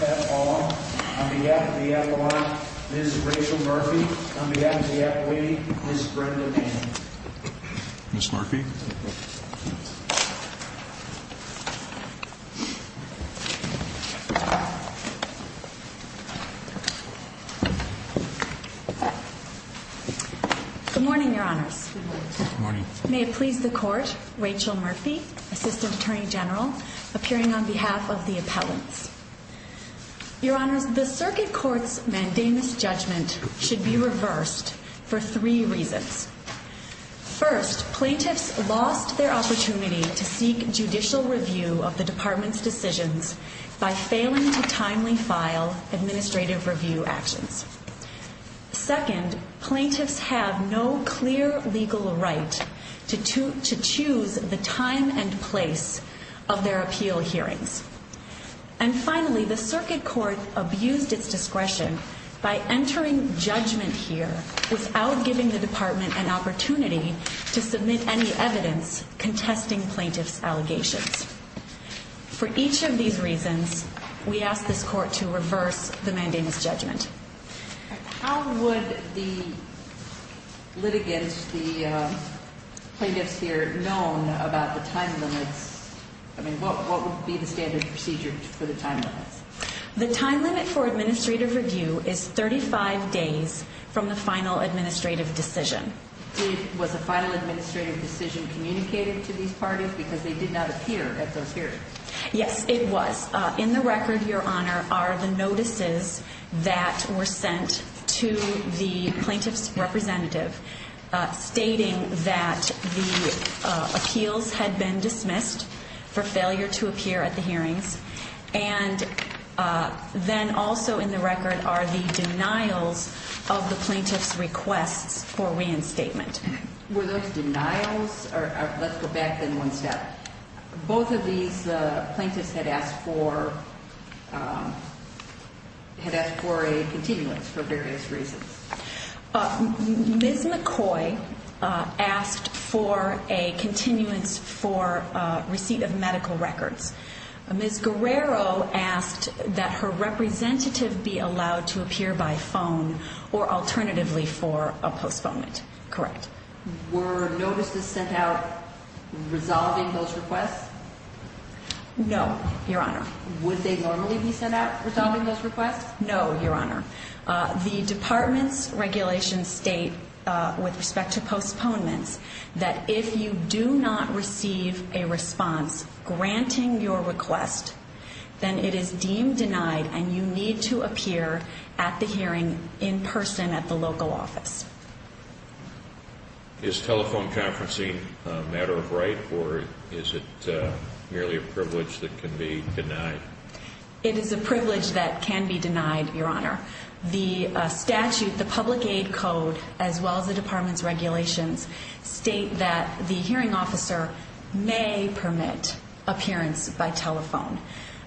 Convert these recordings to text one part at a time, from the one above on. at all. On behalf of the appellant, Ms. Rachel Murphy. On behalf of the appellate, Ms. Brenda Manning. Ms. Murphy. Good morning, Your Honors. May it please the Court, Rachel Murphy, Assistant Attorney General, appearing on behalf of the appellants. Your Honors, the circuit court's mandamus judgment should be reversed for three reasons. First, plaintiffs lost their opportunity to seek judicial review of the department's decisions by failing to timely file administrative review actions. Second, plaintiffs have no clear legal right to choose the time and place of their appeal hearings. And finally, the circuit court abused its discretion by entering judgment here without giving the department an opportunity to submit any evidence contesting plaintiffs' allegations. For each of these reasons, we ask this Court to reverse the mandamus judgment. How would the litigants, the plaintiffs here, know about the time limits? I mean, what would be the standard procedure for the time limits? The time limit for administrative review is 35 days from the final administrative decision. Was a final administrative decision communicated to these parties because they did not appear at those hearings? Yes, it was. In the record, Your Honor, are the notices that were sent to the plaintiff's representative stating that the appeals had been dismissed for failure to appear at the hearings. And then also in the record are the denials of the plaintiff's requests for reinstatement. Were those denials? Let's go back then one step. Both of these plaintiffs had asked for a continuance for various reasons. Ms. McCoy asked for a continuance for receipt of medical records. Ms. Guerrero asked that her representative be allowed to appear by phone or alternatively for a postponement. Correct. Were notices sent out resolving those requests? No, Your Honor. Would they normally be sent out resolving those requests? No, Your Honor. The Department's regulations state, with respect to postponements, that if you do not receive a response granting your request, then it is deemed denied and you need to appear at the hearing in person at the local office. Is telephone conferencing a matter of right or is it merely a privilege that can be denied? It is a privilege that can be denied, Your Honor. The statute, the public aid code, as stated, states that the hearing officer may permit appearance by telephone.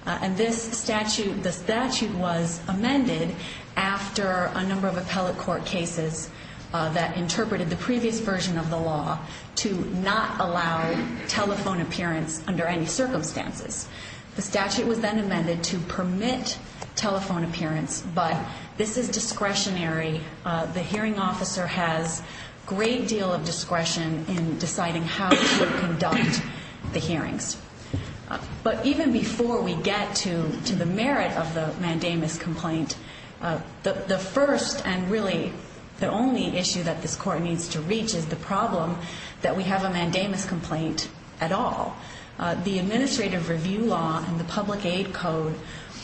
And this statute, the statute was amended after a number of appellate court cases that interpreted the previous version of the law to not allow telephone appearance under any circumstances. The statute was then amended to permit telephone appearance, but this is discretionary. The hearing officer has a great deal of discretion in deciding how to conduct the hearings. But even before we get to the merit of the mandamus complaint, the first and really the only issue that this Court needs to reach is the problem that we have a mandamus complaint at all. The administrative review law and the public aid code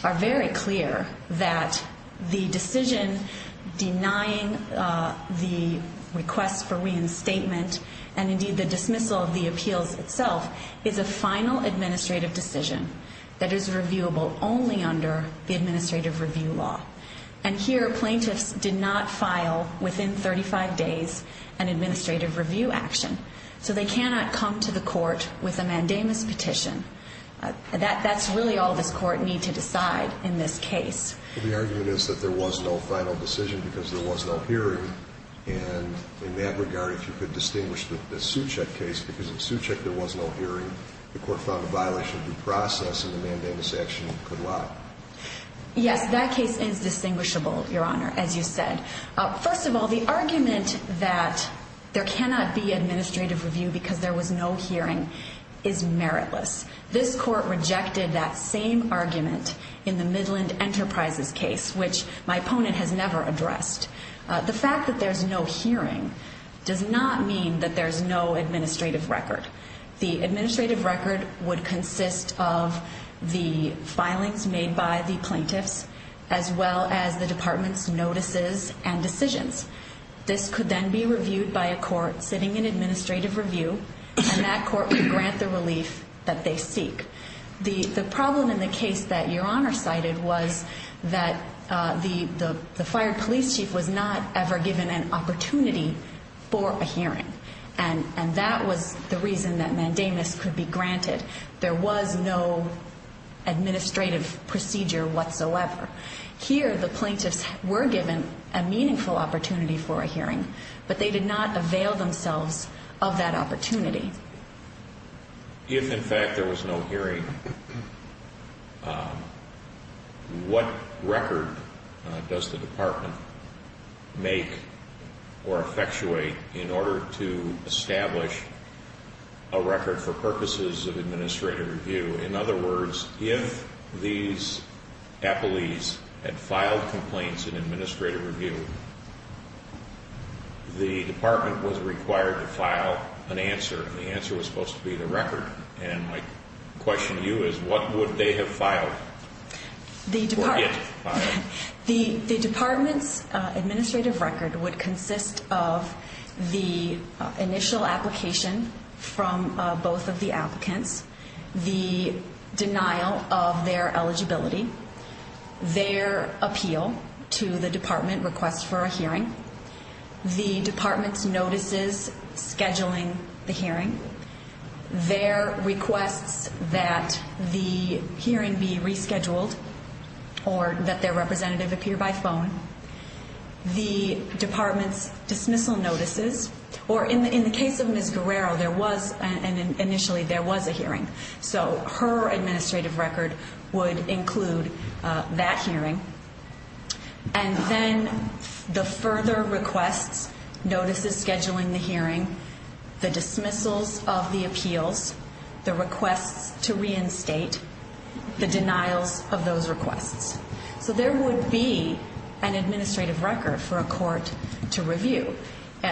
are very clear that the request for reinstatement and indeed the dismissal of the appeals itself is a final administrative decision that is reviewable only under the administrative review law. And here plaintiffs did not file within 35 days an administrative review action. So they cannot come to the court with a mandamus petition. That's really all this Court needs to decide in this case. The argument is that there was no final decision because there was no hearing. And in that regard, if you could distinguish the Suchet case, because in Suchet there was no hearing, the Court found a violation of due process and the mandamus action could lie. Yes, that case is distinguishable, Your Honor, as you said. First of all, the argument that there cannot be administrative review because there was no hearing is meritless. This Court rejected that same argument in the Midland Enterprises case, which my opponent has never addressed. The fact that there's no hearing does not mean that there's no administrative record. The administrative record would consist of the filings made by the plaintiffs as well as the Department's notices and decisions. This could then be reviewed by a court sitting in administrative review, and that court would grant the relief that they seek. The problem in the case that Your Honor cited was that the fired police chief was not ever given an opportunity for a hearing. And that was the reason that mandamus could be granted. There was no administrative procedure whatsoever. Here, the plaintiffs were given a meaningful opportunity for a hearing, but they did not avail themselves of that opportunity. If, in fact, there was no hearing, what record does the Department make or effectuate in order to establish a record for purposes of administrative review? In other words, if these appellees had filed complaints in administrative review, the Department was required to file an answer, and the answer was supposed to be the record. And my question to you is, what would they have filed or get filed? The Department's administrative record would their appeal to the Department request for a hearing, the Department's notices scheduling the hearing, their requests that the hearing be rescheduled or that their representative appear by phone, the Department's dismissal notices, or in the case of Ms. Guerrero, there was a hearing. So her administrative record would include that hearing. And then the further requests, notices scheduling the hearing, the dismissals of the appeals, the requests to reinstate, the denials of those requests. So there would be an administrative record for a court to review.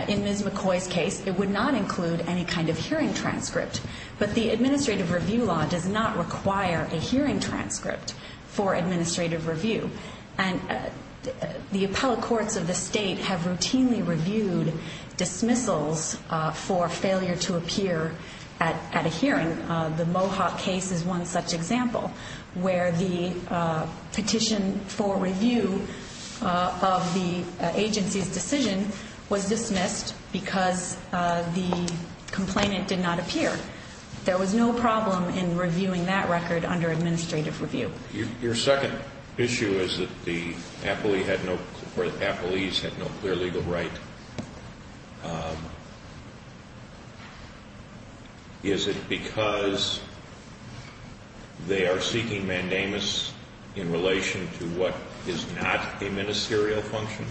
In Ms. McCoy's case, it would not include any kind of hearing transcript, but the administrative review law does not require a hearing transcript for administrative review. And the appellate courts of the state have routinely reviewed dismissals for failure to appear at a hearing. The Mohawk case is one such example, where the petition for review of the agency's decision was dismissed because the complainant did not appear. There was no problem in reviewing that record under administrative review. Your second issue is that the appellees had no clear legal right. Is it because they are seeking mandamus in relation to what is not a ministerial function?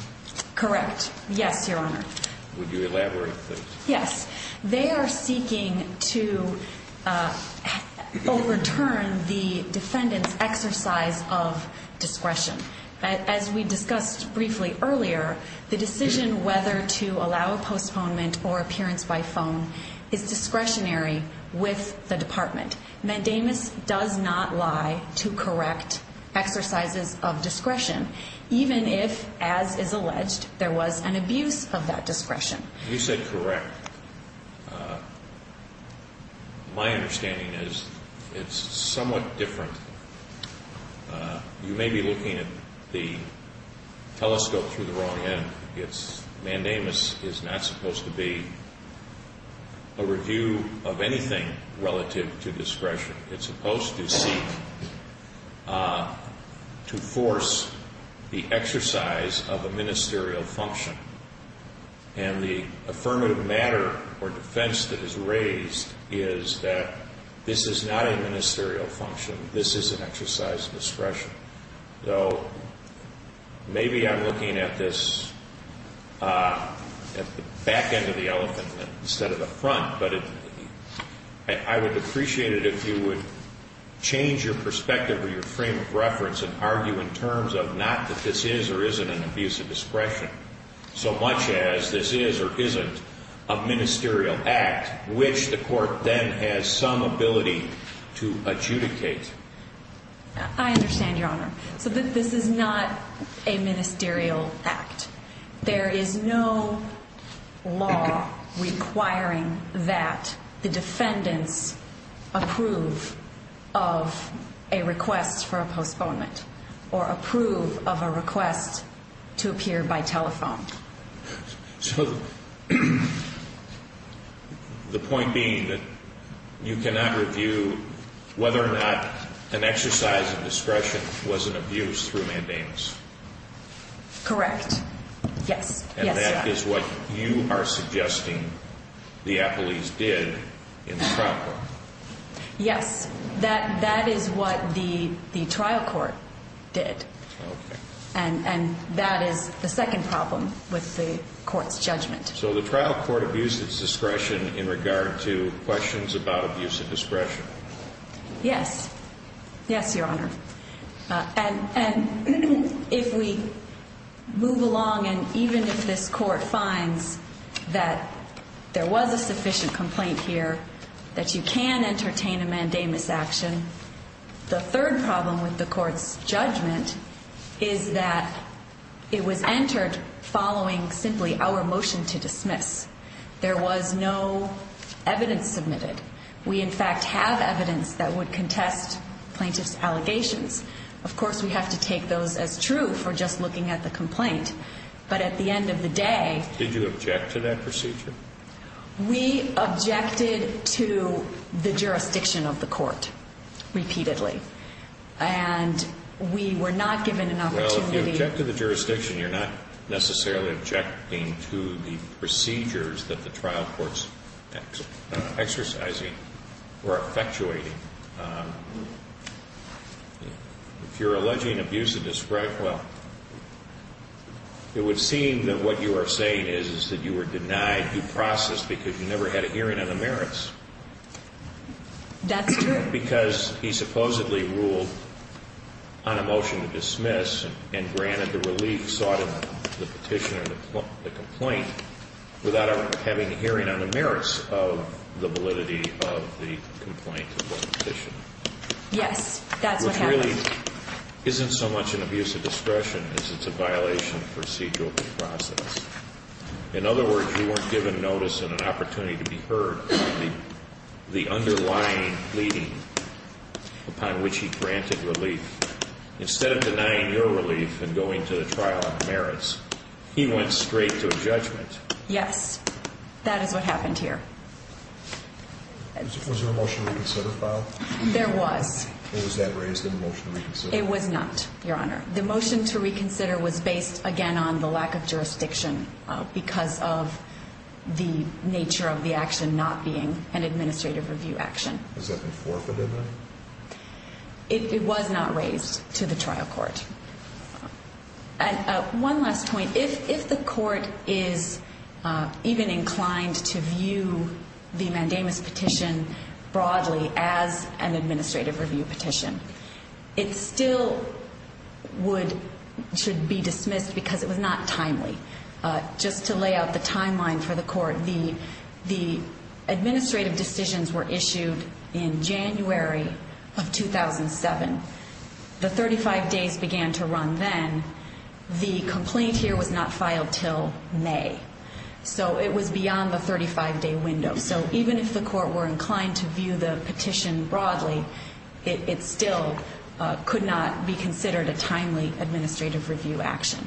Correct. Yes, Your Honor. Would you elaborate please? Yes. They are seeking to overturn the defendant's exercise of discretion. As we discussed briefly earlier, the decision whether to allow a postponement or appearance by phone is discretionary with the department. Mandamus does not lie to correct exercises of discretion, even if, as is alleged, there was an abuse of that discretion. You said correct. My understanding is it's somewhat different. You may be looking at the telescope through the wrong end. Mandamus is not supposed to be a review of anything relative to discretion. It's supposed to seek to force the exercise of a ministerial function. And the affirmative matter or defense that is raised is that this is not a ministerial function. This is an exercise of discretion. I'm not looking at this back end of the elephant instead of the front. But I would appreciate it if you would change your perspective or your frame of reference and argue in terms of not that this is or isn't an abuse of discretion, so much as this is or isn't a ministerial act, which the court then has some ability to adjudicate. I understand, Your Honor. So this is not a ministerial act. There is no law requiring that the defendants approve of a request for a postponement or approve of a request to appear by telephone. So the point being that you cannot review whether or not an exercise of discretion was an abuse through Mandamus? Correct. Yes. And that is what you are suggesting the court's judgment. So the trial court abused its discretion in regard to questions about abuse of discretion? Yes. Yes, Your Honor. And if we move along and even if this court finds that there was a sufficient complaint here, that you can entertain a Mandamus action, the third problem with the court's judgment is that it was entered following simply our motion to dismiss. There was no evidence submitted. We in fact have evidence that would contest plaintiff's allegations. Of course, we have to take those as true for just looking at the complaint. But at the end of the day... Did you object to that procedure? We objected to the jurisdiction of the court, repeatedly. And we were not given an opportunity... Well, if you object to the jurisdiction, you're not necessarily objecting to the procedures that the trial court's exercising or effectuating. If you're alleging abuse of discretion, well, it would seem that what you are saying is that you were denied due process because you never had a hearing on the merits. That's true. Because he supposedly ruled on a motion to dismiss and granted the relief sought in the petition or the complaint without having a hearing on the merits of the validity of the complaint or the petition. Yes, that's what happened. Which really isn't so much an abuse of discretion as it's a violation of procedural due process. In other words, you weren't given notice and an opportunity to be heard. The underlying leading upon which he granted relief. Instead of denying your relief and going to the trial on the merits, he went straight to a judgment. Yes, that is what happened here. Was there a motion to reconsider filed? There was. Or was that raised in the motion to reconsider? It was not, Your Honor. The motion to reconsider was based, again, on the lack of jurisdiction because of the nature of the action not being an administrative review action. Was that before the deadline? It was not raised to the trial court. One last point. If the court is even inclined to view the mandamus petition broadly as an administrative review petition, it still would should be dismissed because it was not timely. Just to lay out the timeline for the court, the administrative decisions were issued in January of 2007. The 35 days began to run then. The complaint here was not filed until May. So it was beyond the 35-day window. So even if the court were inclined to view the petition broadly, it still could not be considered a timely administrative review action.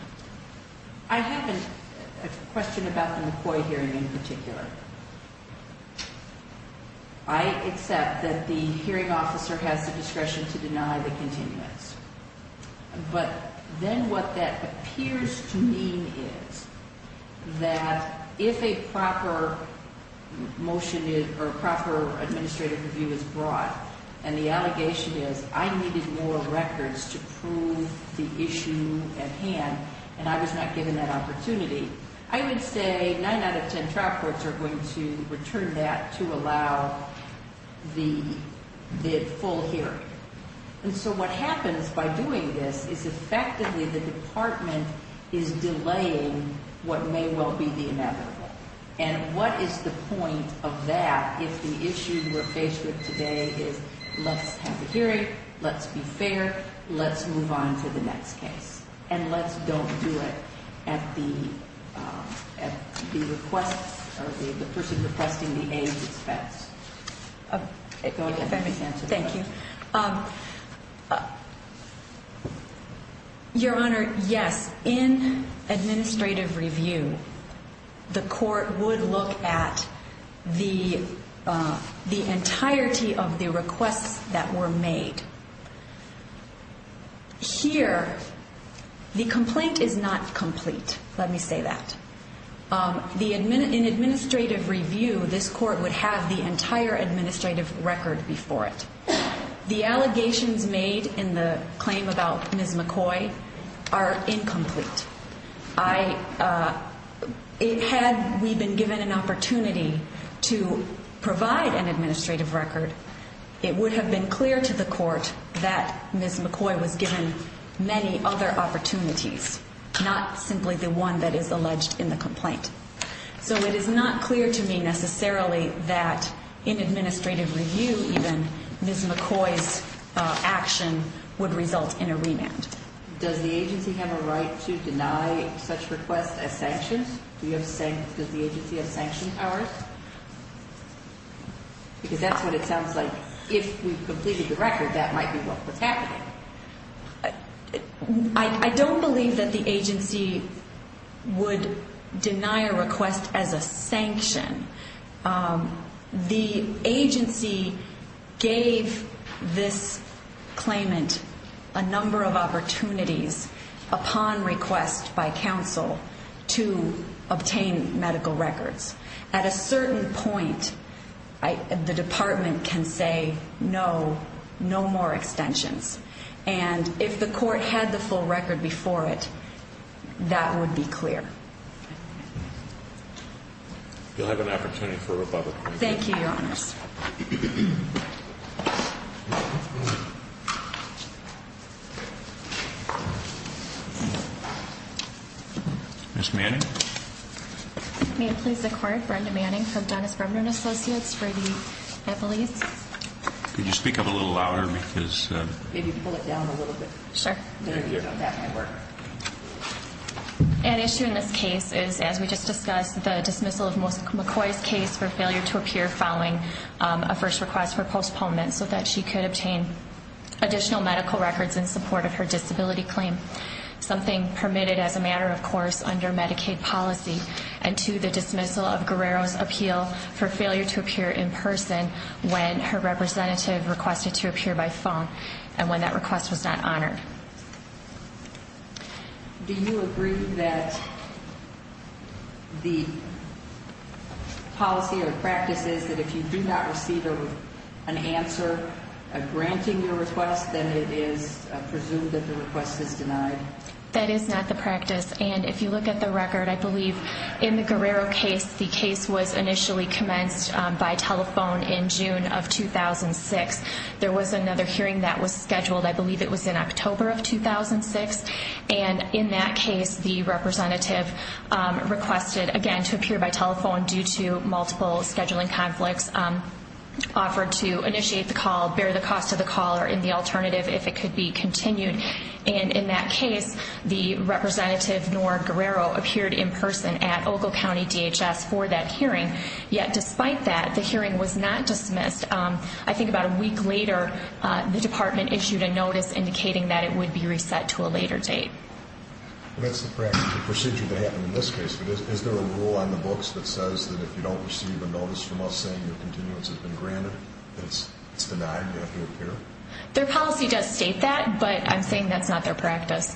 I have a question about the McCoy hearing in particular. I accept that the hearing officer has the discretion to deny the continuance. But then what that appears to mean is that if a proper motion or proper administrative review is brought and the allegation is I needed more records to prove the issue at hand and I was not given that opportunity, I would say 9 out of 10 trial courts are going to return that to allow the full hearing. And so what happens by doing this is effectively the department is delaying what may well be the inevitable. And what is the point of that if the issue we're faced with today is let's have the hearing, let's be fair, let's move on to the next case. And let's don't do it at the request or the person requesting the aid expense. Thank you. Your Honor, yes. In administrative review, the court would look at the entirety of the requests that were made. Here, the complaint is not complete. Let me say that. In administrative review, this court would have the entire administrative record before it. The allegations made in the claim about Ms. McCoy are incomplete. Had we been given an opportunity to provide an administrative record, it would have been clear to the court that Ms. McCoy was given many other opportunities, not simply the one that is alleged in the complaint. So it is not clear to me necessarily that in administrative request as sanctions? Does the agency have sanction powers? Because that's what it sounds like. If we've completed the record, that might be what's happening. I don't believe that the agency would deny a request as a sanction. The agency gave this claimant a request by counsel to obtain medical records. At a certain point, the department can say no, no more extensions. And if the court had the full record before it, that would be clear. You'll have an opportunity for rebuttal. Thank you, Your Honors. Ms. Manning? May it please the Court, Brenda Manning from Dennis Bremner & Associates for the Eppley's. Could you speak up a little louder? Maybe pull it down a little bit. Sure. An issue in this case is, as we just discussed, the dismissal of Ms. McCoy's case for failure to appear following a first request for postponement so that she could obtain additional medical records in support of her disability claim. Something permitted as a matter of course under Medicaid policy and to the dismissal of Guerrero's appeal for failure to appear in person when her representative requested to appear by phone and when that request was not honored. Do you agree that the policy or practice is that if you do not receive an answer granting your request, then it is presumed that the request is denied? That is not the practice. And if you look at the record, I believe in the Guerrero case, the case was initially commenced by telephone in June of 2006. There was another hearing that was scheduled, I believe it was in October of 2006. And in that case, the representative requested, again, to appear by telephone due to multiple scheduling conflicts, offered to initiate the call, bear the cost of the call, or in the alternative, if it could be continued. And in that case, the representative, Nora Guerrero, appeared in person at Ogle County DHS for that hearing. Yet despite that, the hearing was not dismissed. I think about a week later, the department issued a notice indicating that it would be reset to a later date. That's the procedure that happened in this case. But is there a rule on the books that says that if you don't receive a notice from us saying your continuance has been granted, that it's denied, you have to appear? Their policy does state that, but I'm saying that's not their practice.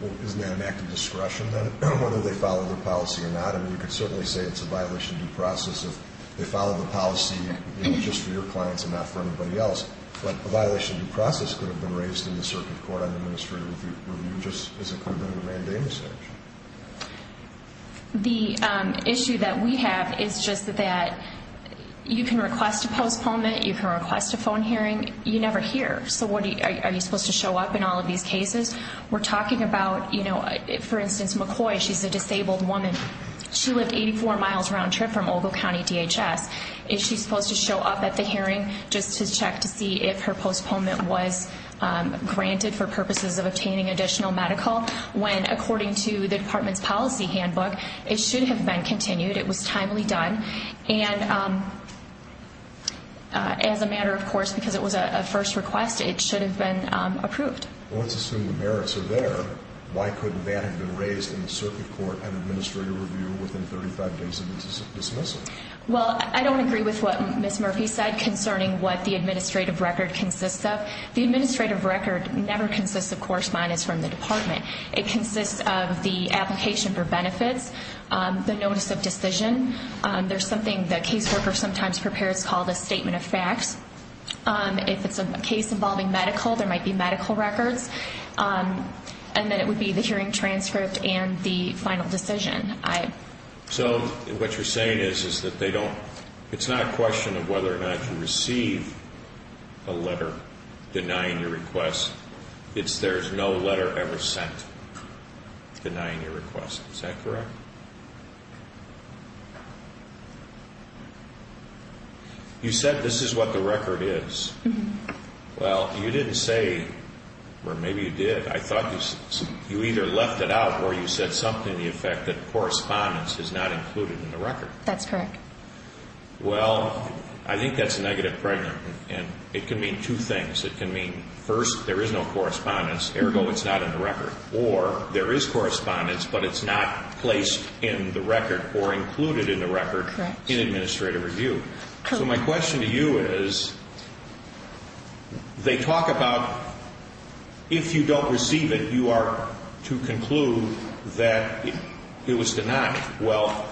Well, isn't that an act of discretion then, whether they follow their policy or not? I mean, you could certainly say it's a violation of due process if they follow the policy just for your clients and not for anybody else. But a violation of due process could have been raised in the circuit court on administrative review just as it could have been in a mandamus action. The issue that we have is just that you can request a postponement, you can request a phone hearing, you never hear. So are you supposed to show up in all of these cases? We're talking about, for instance, McCoy, she's a disabled woman. She lived 84 miles round trip from Ogle County DHS. Is she supposed to show up at the hearing just to check to see if her postponement was granted for purposes of obtaining additional medical? When, according to the department's policy handbook, it should have been continued. It was timely done. And as a matter of course, because it was a first request, it should have been approved. Well, let's assume the merits are there. Why couldn't that have been raised in the circuit court and administrative review within 35 days of dismissal? Well, I don't agree with what Ms. Murphy said concerning what the administrative record consists of. The administrative record never consists of correspondence from the department. It consists of the application for benefits, the notice of decision. There's something that caseworkers sometimes prepare. It's called a statement of facts. If it's a case involving medical, there might be medical records. And then it would be the hearing transcript and the final decision. So what you're saying is that they don't, it's not a question of whether or not you receive a letter denying your request. It's there's no letter ever sent denying your request. Is that correct? You said this is what the record is. Well, you didn't say, or maybe you did, I thought you either left it out or you said something to the effect that correspondence is not included in the record. That's correct. Well, I think that's a negative fragment. And it can mean two things. It can mean first, there is no correspondence. Ergo, it's not in the record. Or there is correspondence, but it's not placed in the record or included in the record in administrative review. So my question to you is, they talk about if you don't receive it, you are to conclude that it was denied. Well,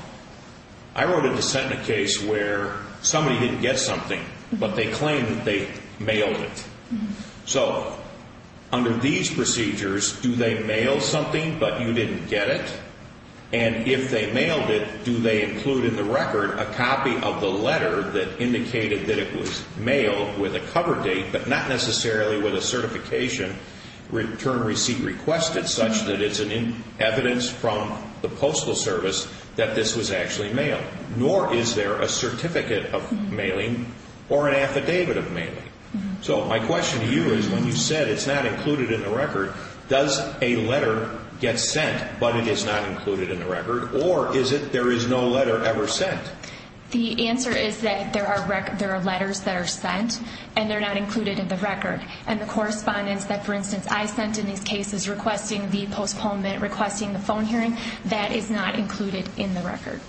I wrote a dissent in a case where somebody didn't get something, but they claimed that they mailed it. So under these procedures, do they mail something but you didn't get it? And if they mailed it, do they include in the record a copy of the letter that indicated that it was mailed with a cover date, but not necessarily with a certification, return receipt requested such that it's evidence from the Postal Service that this was actually mailed? Nor is there a certificate of mailing or an affidavit of mailing. So my question to you is, when you said it's not included in the record, does a letter get sent but it is not included in the record? Or is it there is no letter ever sent? The answer is that there are letters that are sent and they're not included in the record. And the correspondence that, for instance, I sent in these cases requesting the postponement, requesting the phone hearing, that is not included in the record.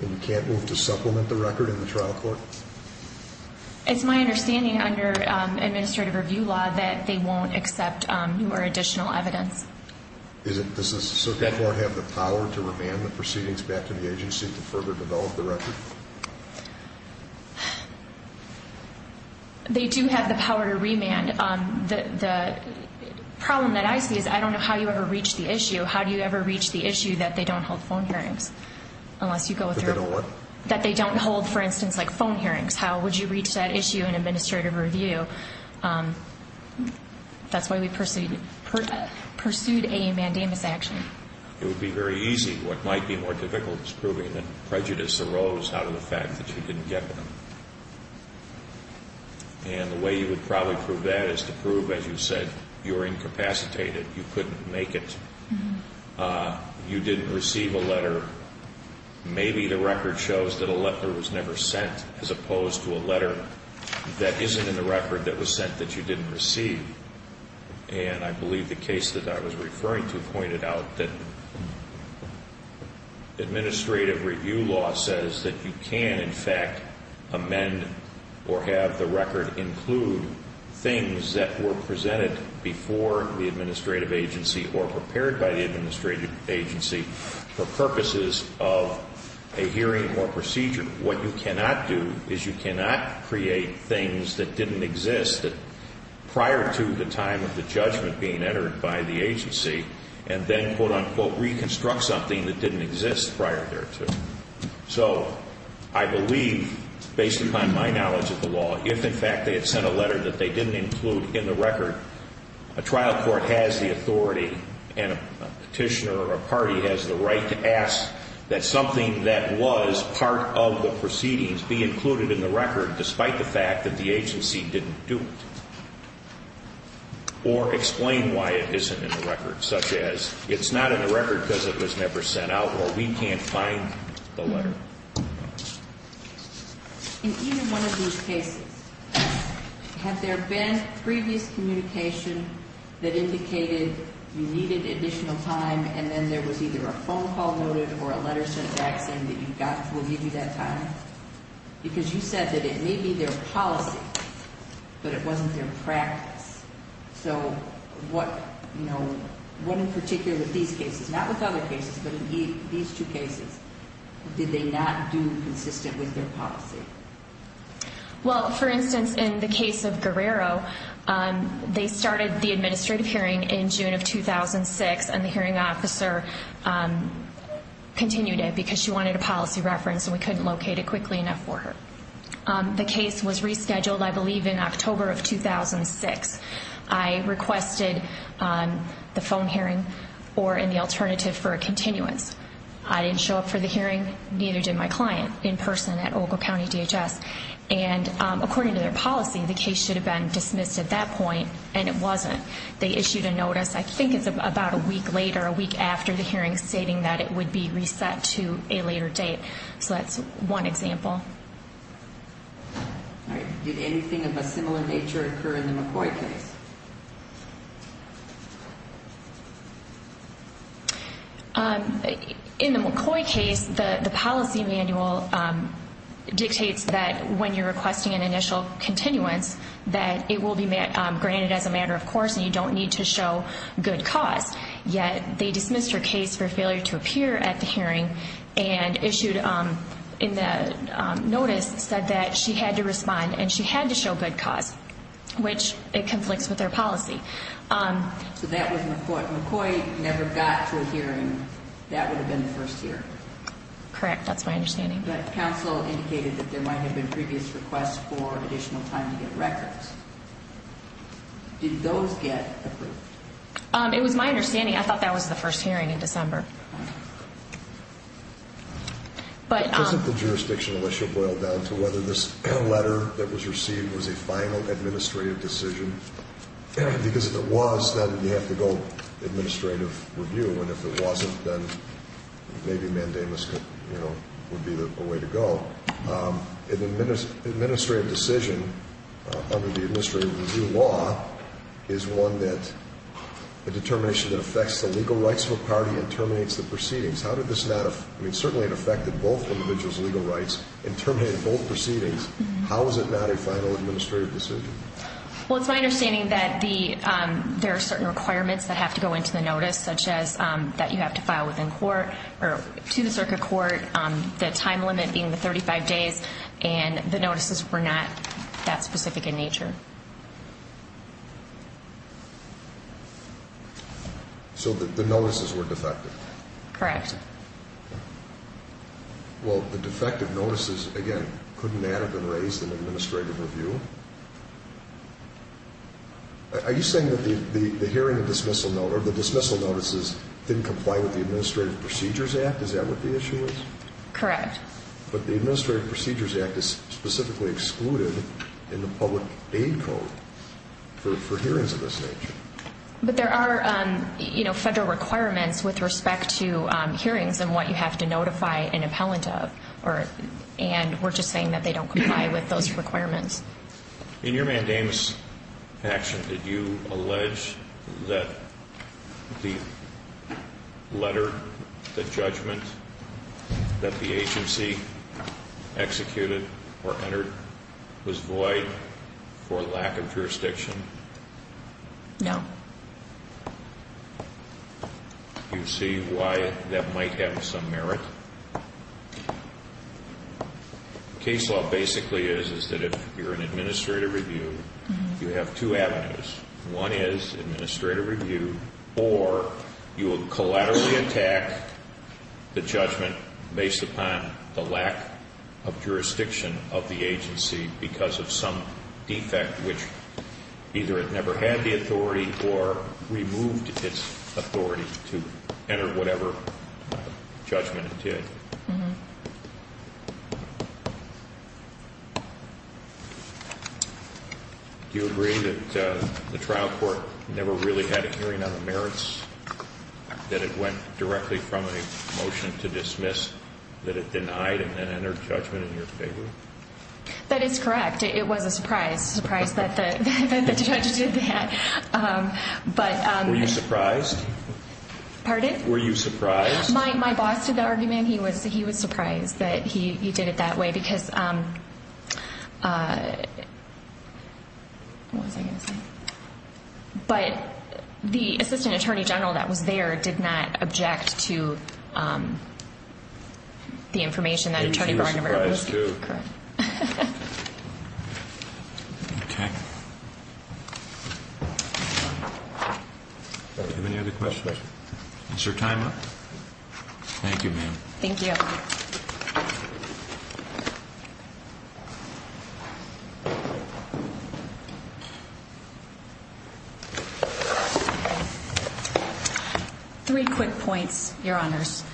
And you can't move to supplement the record in the trial court? It's my understanding under administrative review law that they won't accept more additional evidence. Does the circuit court have the power to remand? They do have the power to remand. The problem that I see is I don't know how you ever reach the issue. How do you ever reach the issue that they don't hold phone hearings unless you go through? That they don't hold, for instance, like phone hearings. How would you reach that issue in administrative review? That's why we pursued a mandamus action. It would be very easy. What might be more difficult is proving that you didn't get them. And the way you would probably prove that is to prove, as you said, you were incapacitated. You couldn't make it. You didn't receive a letter. Maybe the record shows that a letter was never sent as opposed to a letter that isn't in the record that was sent that you didn't receive. And I believe the case that I was referring to pointed out that administrative review law says that you can, in fact, amend or have the record include things that were presented before the administrative agency or prepared by the administrative agency for purposes of a hearing or procedure. What you cannot do is you cannot create things that didn't exist prior to the time of the judgment being made and then, quote, unquote, reconstruct something that didn't exist prior thereto. So I believe, based upon my knowledge of the law, if in fact they had sent a letter that they didn't include in the record, a trial court has the authority and a petitioner or a party has the right to ask that something that was part of the proceedings be included in the record despite the fact that the agency didn't do it or explain why it isn't in the record because it was never sent out or we can't find the letter. In either one of these cases, have there been previous communication that indicated you needed additional time and then there was either a phone call noted or a letter sent back saying that you got, we'll give you that time? Because you said that it may be their not with other cases, but in these two cases, did they not do consistent with their policy? Well, for instance, in the case of Guerrero, they started the administrative hearing in June of 2006 and the hearing officer continued it because she wanted a policy reference and we couldn't locate it quickly enough for her. The case was rescheduled, I believe, in October of 2006. I requested the phone hearing or any alternative for a continuance. I didn't show up for the hearing, neither did my client in person at Ogle County DHS. And according to their policy, the case should have been dismissed at that point and it wasn't. They issued a notice, I think it's about a week later, a week after the hearing stating that it would be reset to a later date. So that's one example. All right. Did anything of a similar nature occur in the McCoy case? In the McCoy case, the policy manual dictates that when you're requesting an initial continuance that it will be granted as a matter of course and you don't need to show good cause. Yet they dismissed her case for failure to appear at the hearing and issued in the notice said that she had to respond and she had to show good cause, which it conflicts with their policy. So that was McCoy. McCoy never got to a hearing. That would have been the first year? Correct. That's my understanding. But counsel indicated that there might have been previous requests for additional time to get records. Did those get approved? It was my understanding. I thought that was the first hearing in December. Doesn't the jurisdictional issue boil down to whether this letter that was received was a final administrative decision? Because if it was, then you have to go administrative review and if it wasn't, then maybe mandamus would be the way to go. An administrative decision under the administrative review law is one that, a determination that affects the legal rights of a party and terminates the proceedings. How did this not, I mean certainly it affected both individuals' legal rights and terminated both proceedings. How is it not a final administrative decision? Well, it's my understanding that there are certain requirements that have to go into the notice, such as that you have to file within court or to the circuit court, the time limit being the 35 days, and the notices were not that specific in nature. So the notices were defective? Correct. Well, the defective notices, again, couldn't that have been raised in administrative review? Are you saying that the dismissal notices didn't comply with the Administrative Procedures Act? Is that what the issue is? Correct. But the Administrative Procedures Act is specifically excluded in the public aid code for hearings of this nature. But there are federal requirements with respect to hearings and what you have to notify an appellant of, and we're just saying that they don't comply with those requirements. In your mandamus action, did you allege that the letter, the judgment that the agency executed or entered was void for lack of jurisdiction? No. Do you see why that might have some merit? The case law basically is that if you're in administrative review, you have two avenues. One is administrative review, or you will collaterally attack the judgment based upon the lack of jurisdiction of the agency because of some defect, which either it never had the authority or removed its authority to enter whatever judgment it did. Do you agree that the trial court never really had a hearing on the merits, that it went directly from a motion to dismiss, that it denied and then entered judgment in your favor? That is correct. It was a surprise. Surprised that the judge did that. Were you surprised? Pardon? Were you surprised? My boss did the argument. He was surprised that he did it that way. But the assistant attorney general that was there did not object to the information that was provided. Okay. Do you have any other questions? Is your time up? Thank you, ma'am. Thank you. Three quick points, Your Honors.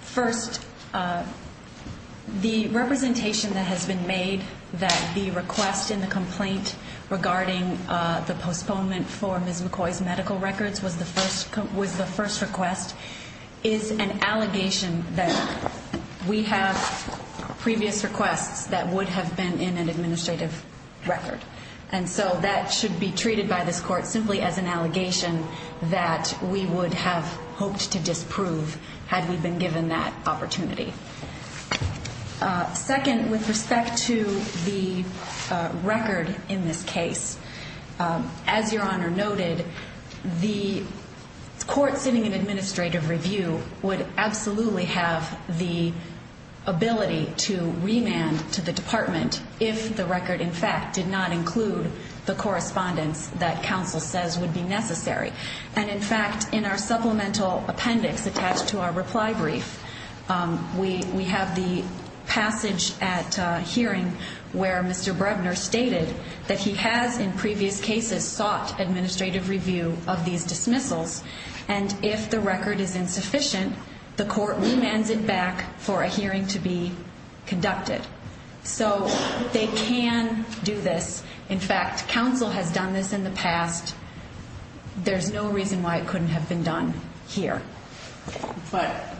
First, the representation that has been made that the request in the complaint regarding the postponement for Ms. McCoy's medical records was the first request is an allegation that we have previous requests that would have been in an administrative record. And so that should be treated by this court simply as an allegation that we would have opted to disprove had we been given that opportunity. Second, with respect to the record in this case, as Your Honor noted, the court sitting in administrative review would absolutely have the ability to remand to the department if the record, in fact, did not include the correspondence that counsel says would be necessary. And, in fact, in our supplemental appendix attached to our reply brief, we have the passage at hearing where Mr. Brevner stated that he has in previous cases sought administrative review of these dismissals. And if the record is insufficient, the court remands it back for a hearing to be conducted. So they can do this. In fact, counsel has done this in the past. There's no reason why it couldn't have been done here. But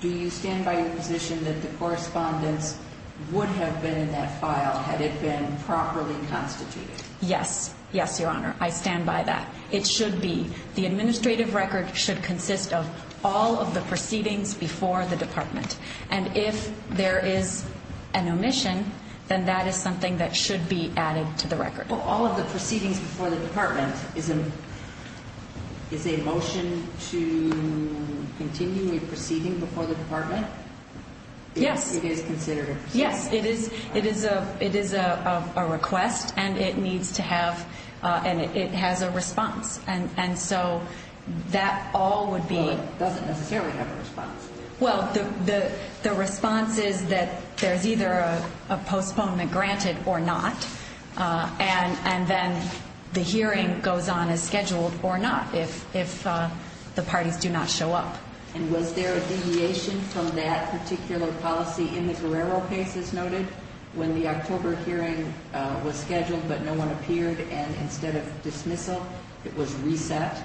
do you stand by your position that the correspondence would have been in that file had it been properly constituted? Yes. Yes, Your Honor. I stand by that. It should be. The administrative record should consist of all of the proceedings before the department. And if there is an omission, then that is something that should be added to the record. All of the proceedings before the department is a motion to continue a proceeding before the department? Yes. It is considered a proceeding? Yes. It is a request, and it needs to have, and it has a response. And so that all would be... Well, it doesn't necessarily have a response. Well, the response is that there's either a postponement granted or not. And then the hearing goes on as scheduled or not if the parties do not show up. And was there a deviation from that particular policy in the Guerrero case, as noted, when the October hearing was scheduled but no one appeared, and instead of dismissal, it was reset?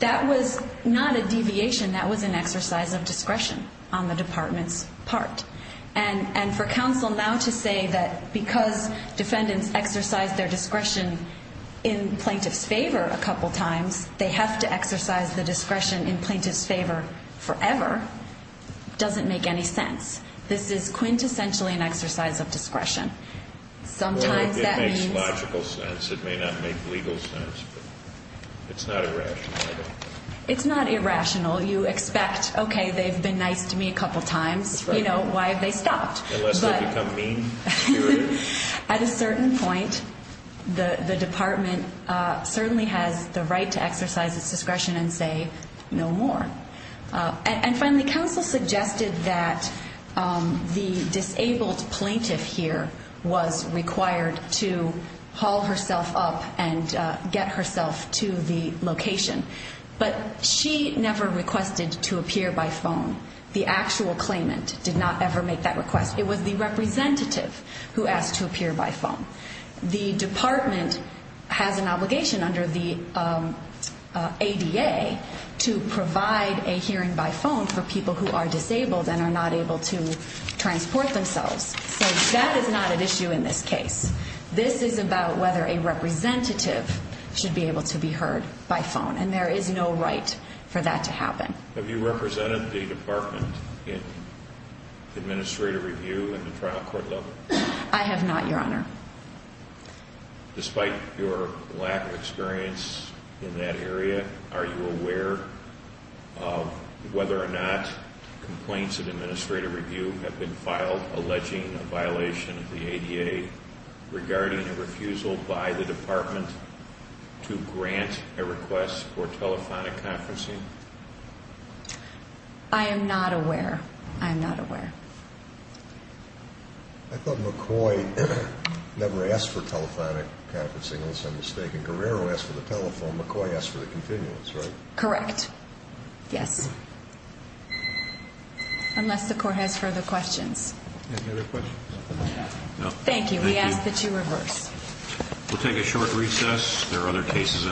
That was not a deviation. That was an exercise of discretion on the department's part. And for counsel now to say that because defendants exercise their discretion in plaintiff's favor a couple times, they have to exercise the discretion in plaintiff's favor forever doesn't make any sense. This is quintessentially an exercise of discretion. Sometimes that means... Well, it makes logical sense. It may not make legal sense, but it's not irrational. It's not irrational. You expect, okay, they've been nice to me a couple times. You know, why have they stopped? Unless they become mean to you? At a certain point, the department certainly has the right to exercise its discretion and say no more. And finally, counsel suggested that the disabled plaintiff here was required to haul herself up and get herself to the location. But she never requested to appear by phone. The actual claimant did not ever make that request. It was the representative who asked to appear by phone. The department has an obligation under the ADA to provide a hearing by phone for people who are disabled and are not able to transport themselves. So that is not an issue in this case. This is about whether a representative should be able to be heard by phone. And there is no right for that to happen. Have you represented the department in administrative review in the trial court level? I have not, Your Honor. Despite your lack of experience in that area, are you aware of whether or not complaints in administrative review have been filed alleging a violation of the ADA regarding a refusal by the department to grant a request for telephonic conferencing? I am not aware. I am not aware. I thought McCoy never asked for telephonic conferencing. Guerrero asked for the telephone. McCoy asked for the continuance, right? Correct. Yes. Unless the court has further questions. Any other questions? No. Thank you. We ask that you reverse. We'll take a short recess. There are other cases.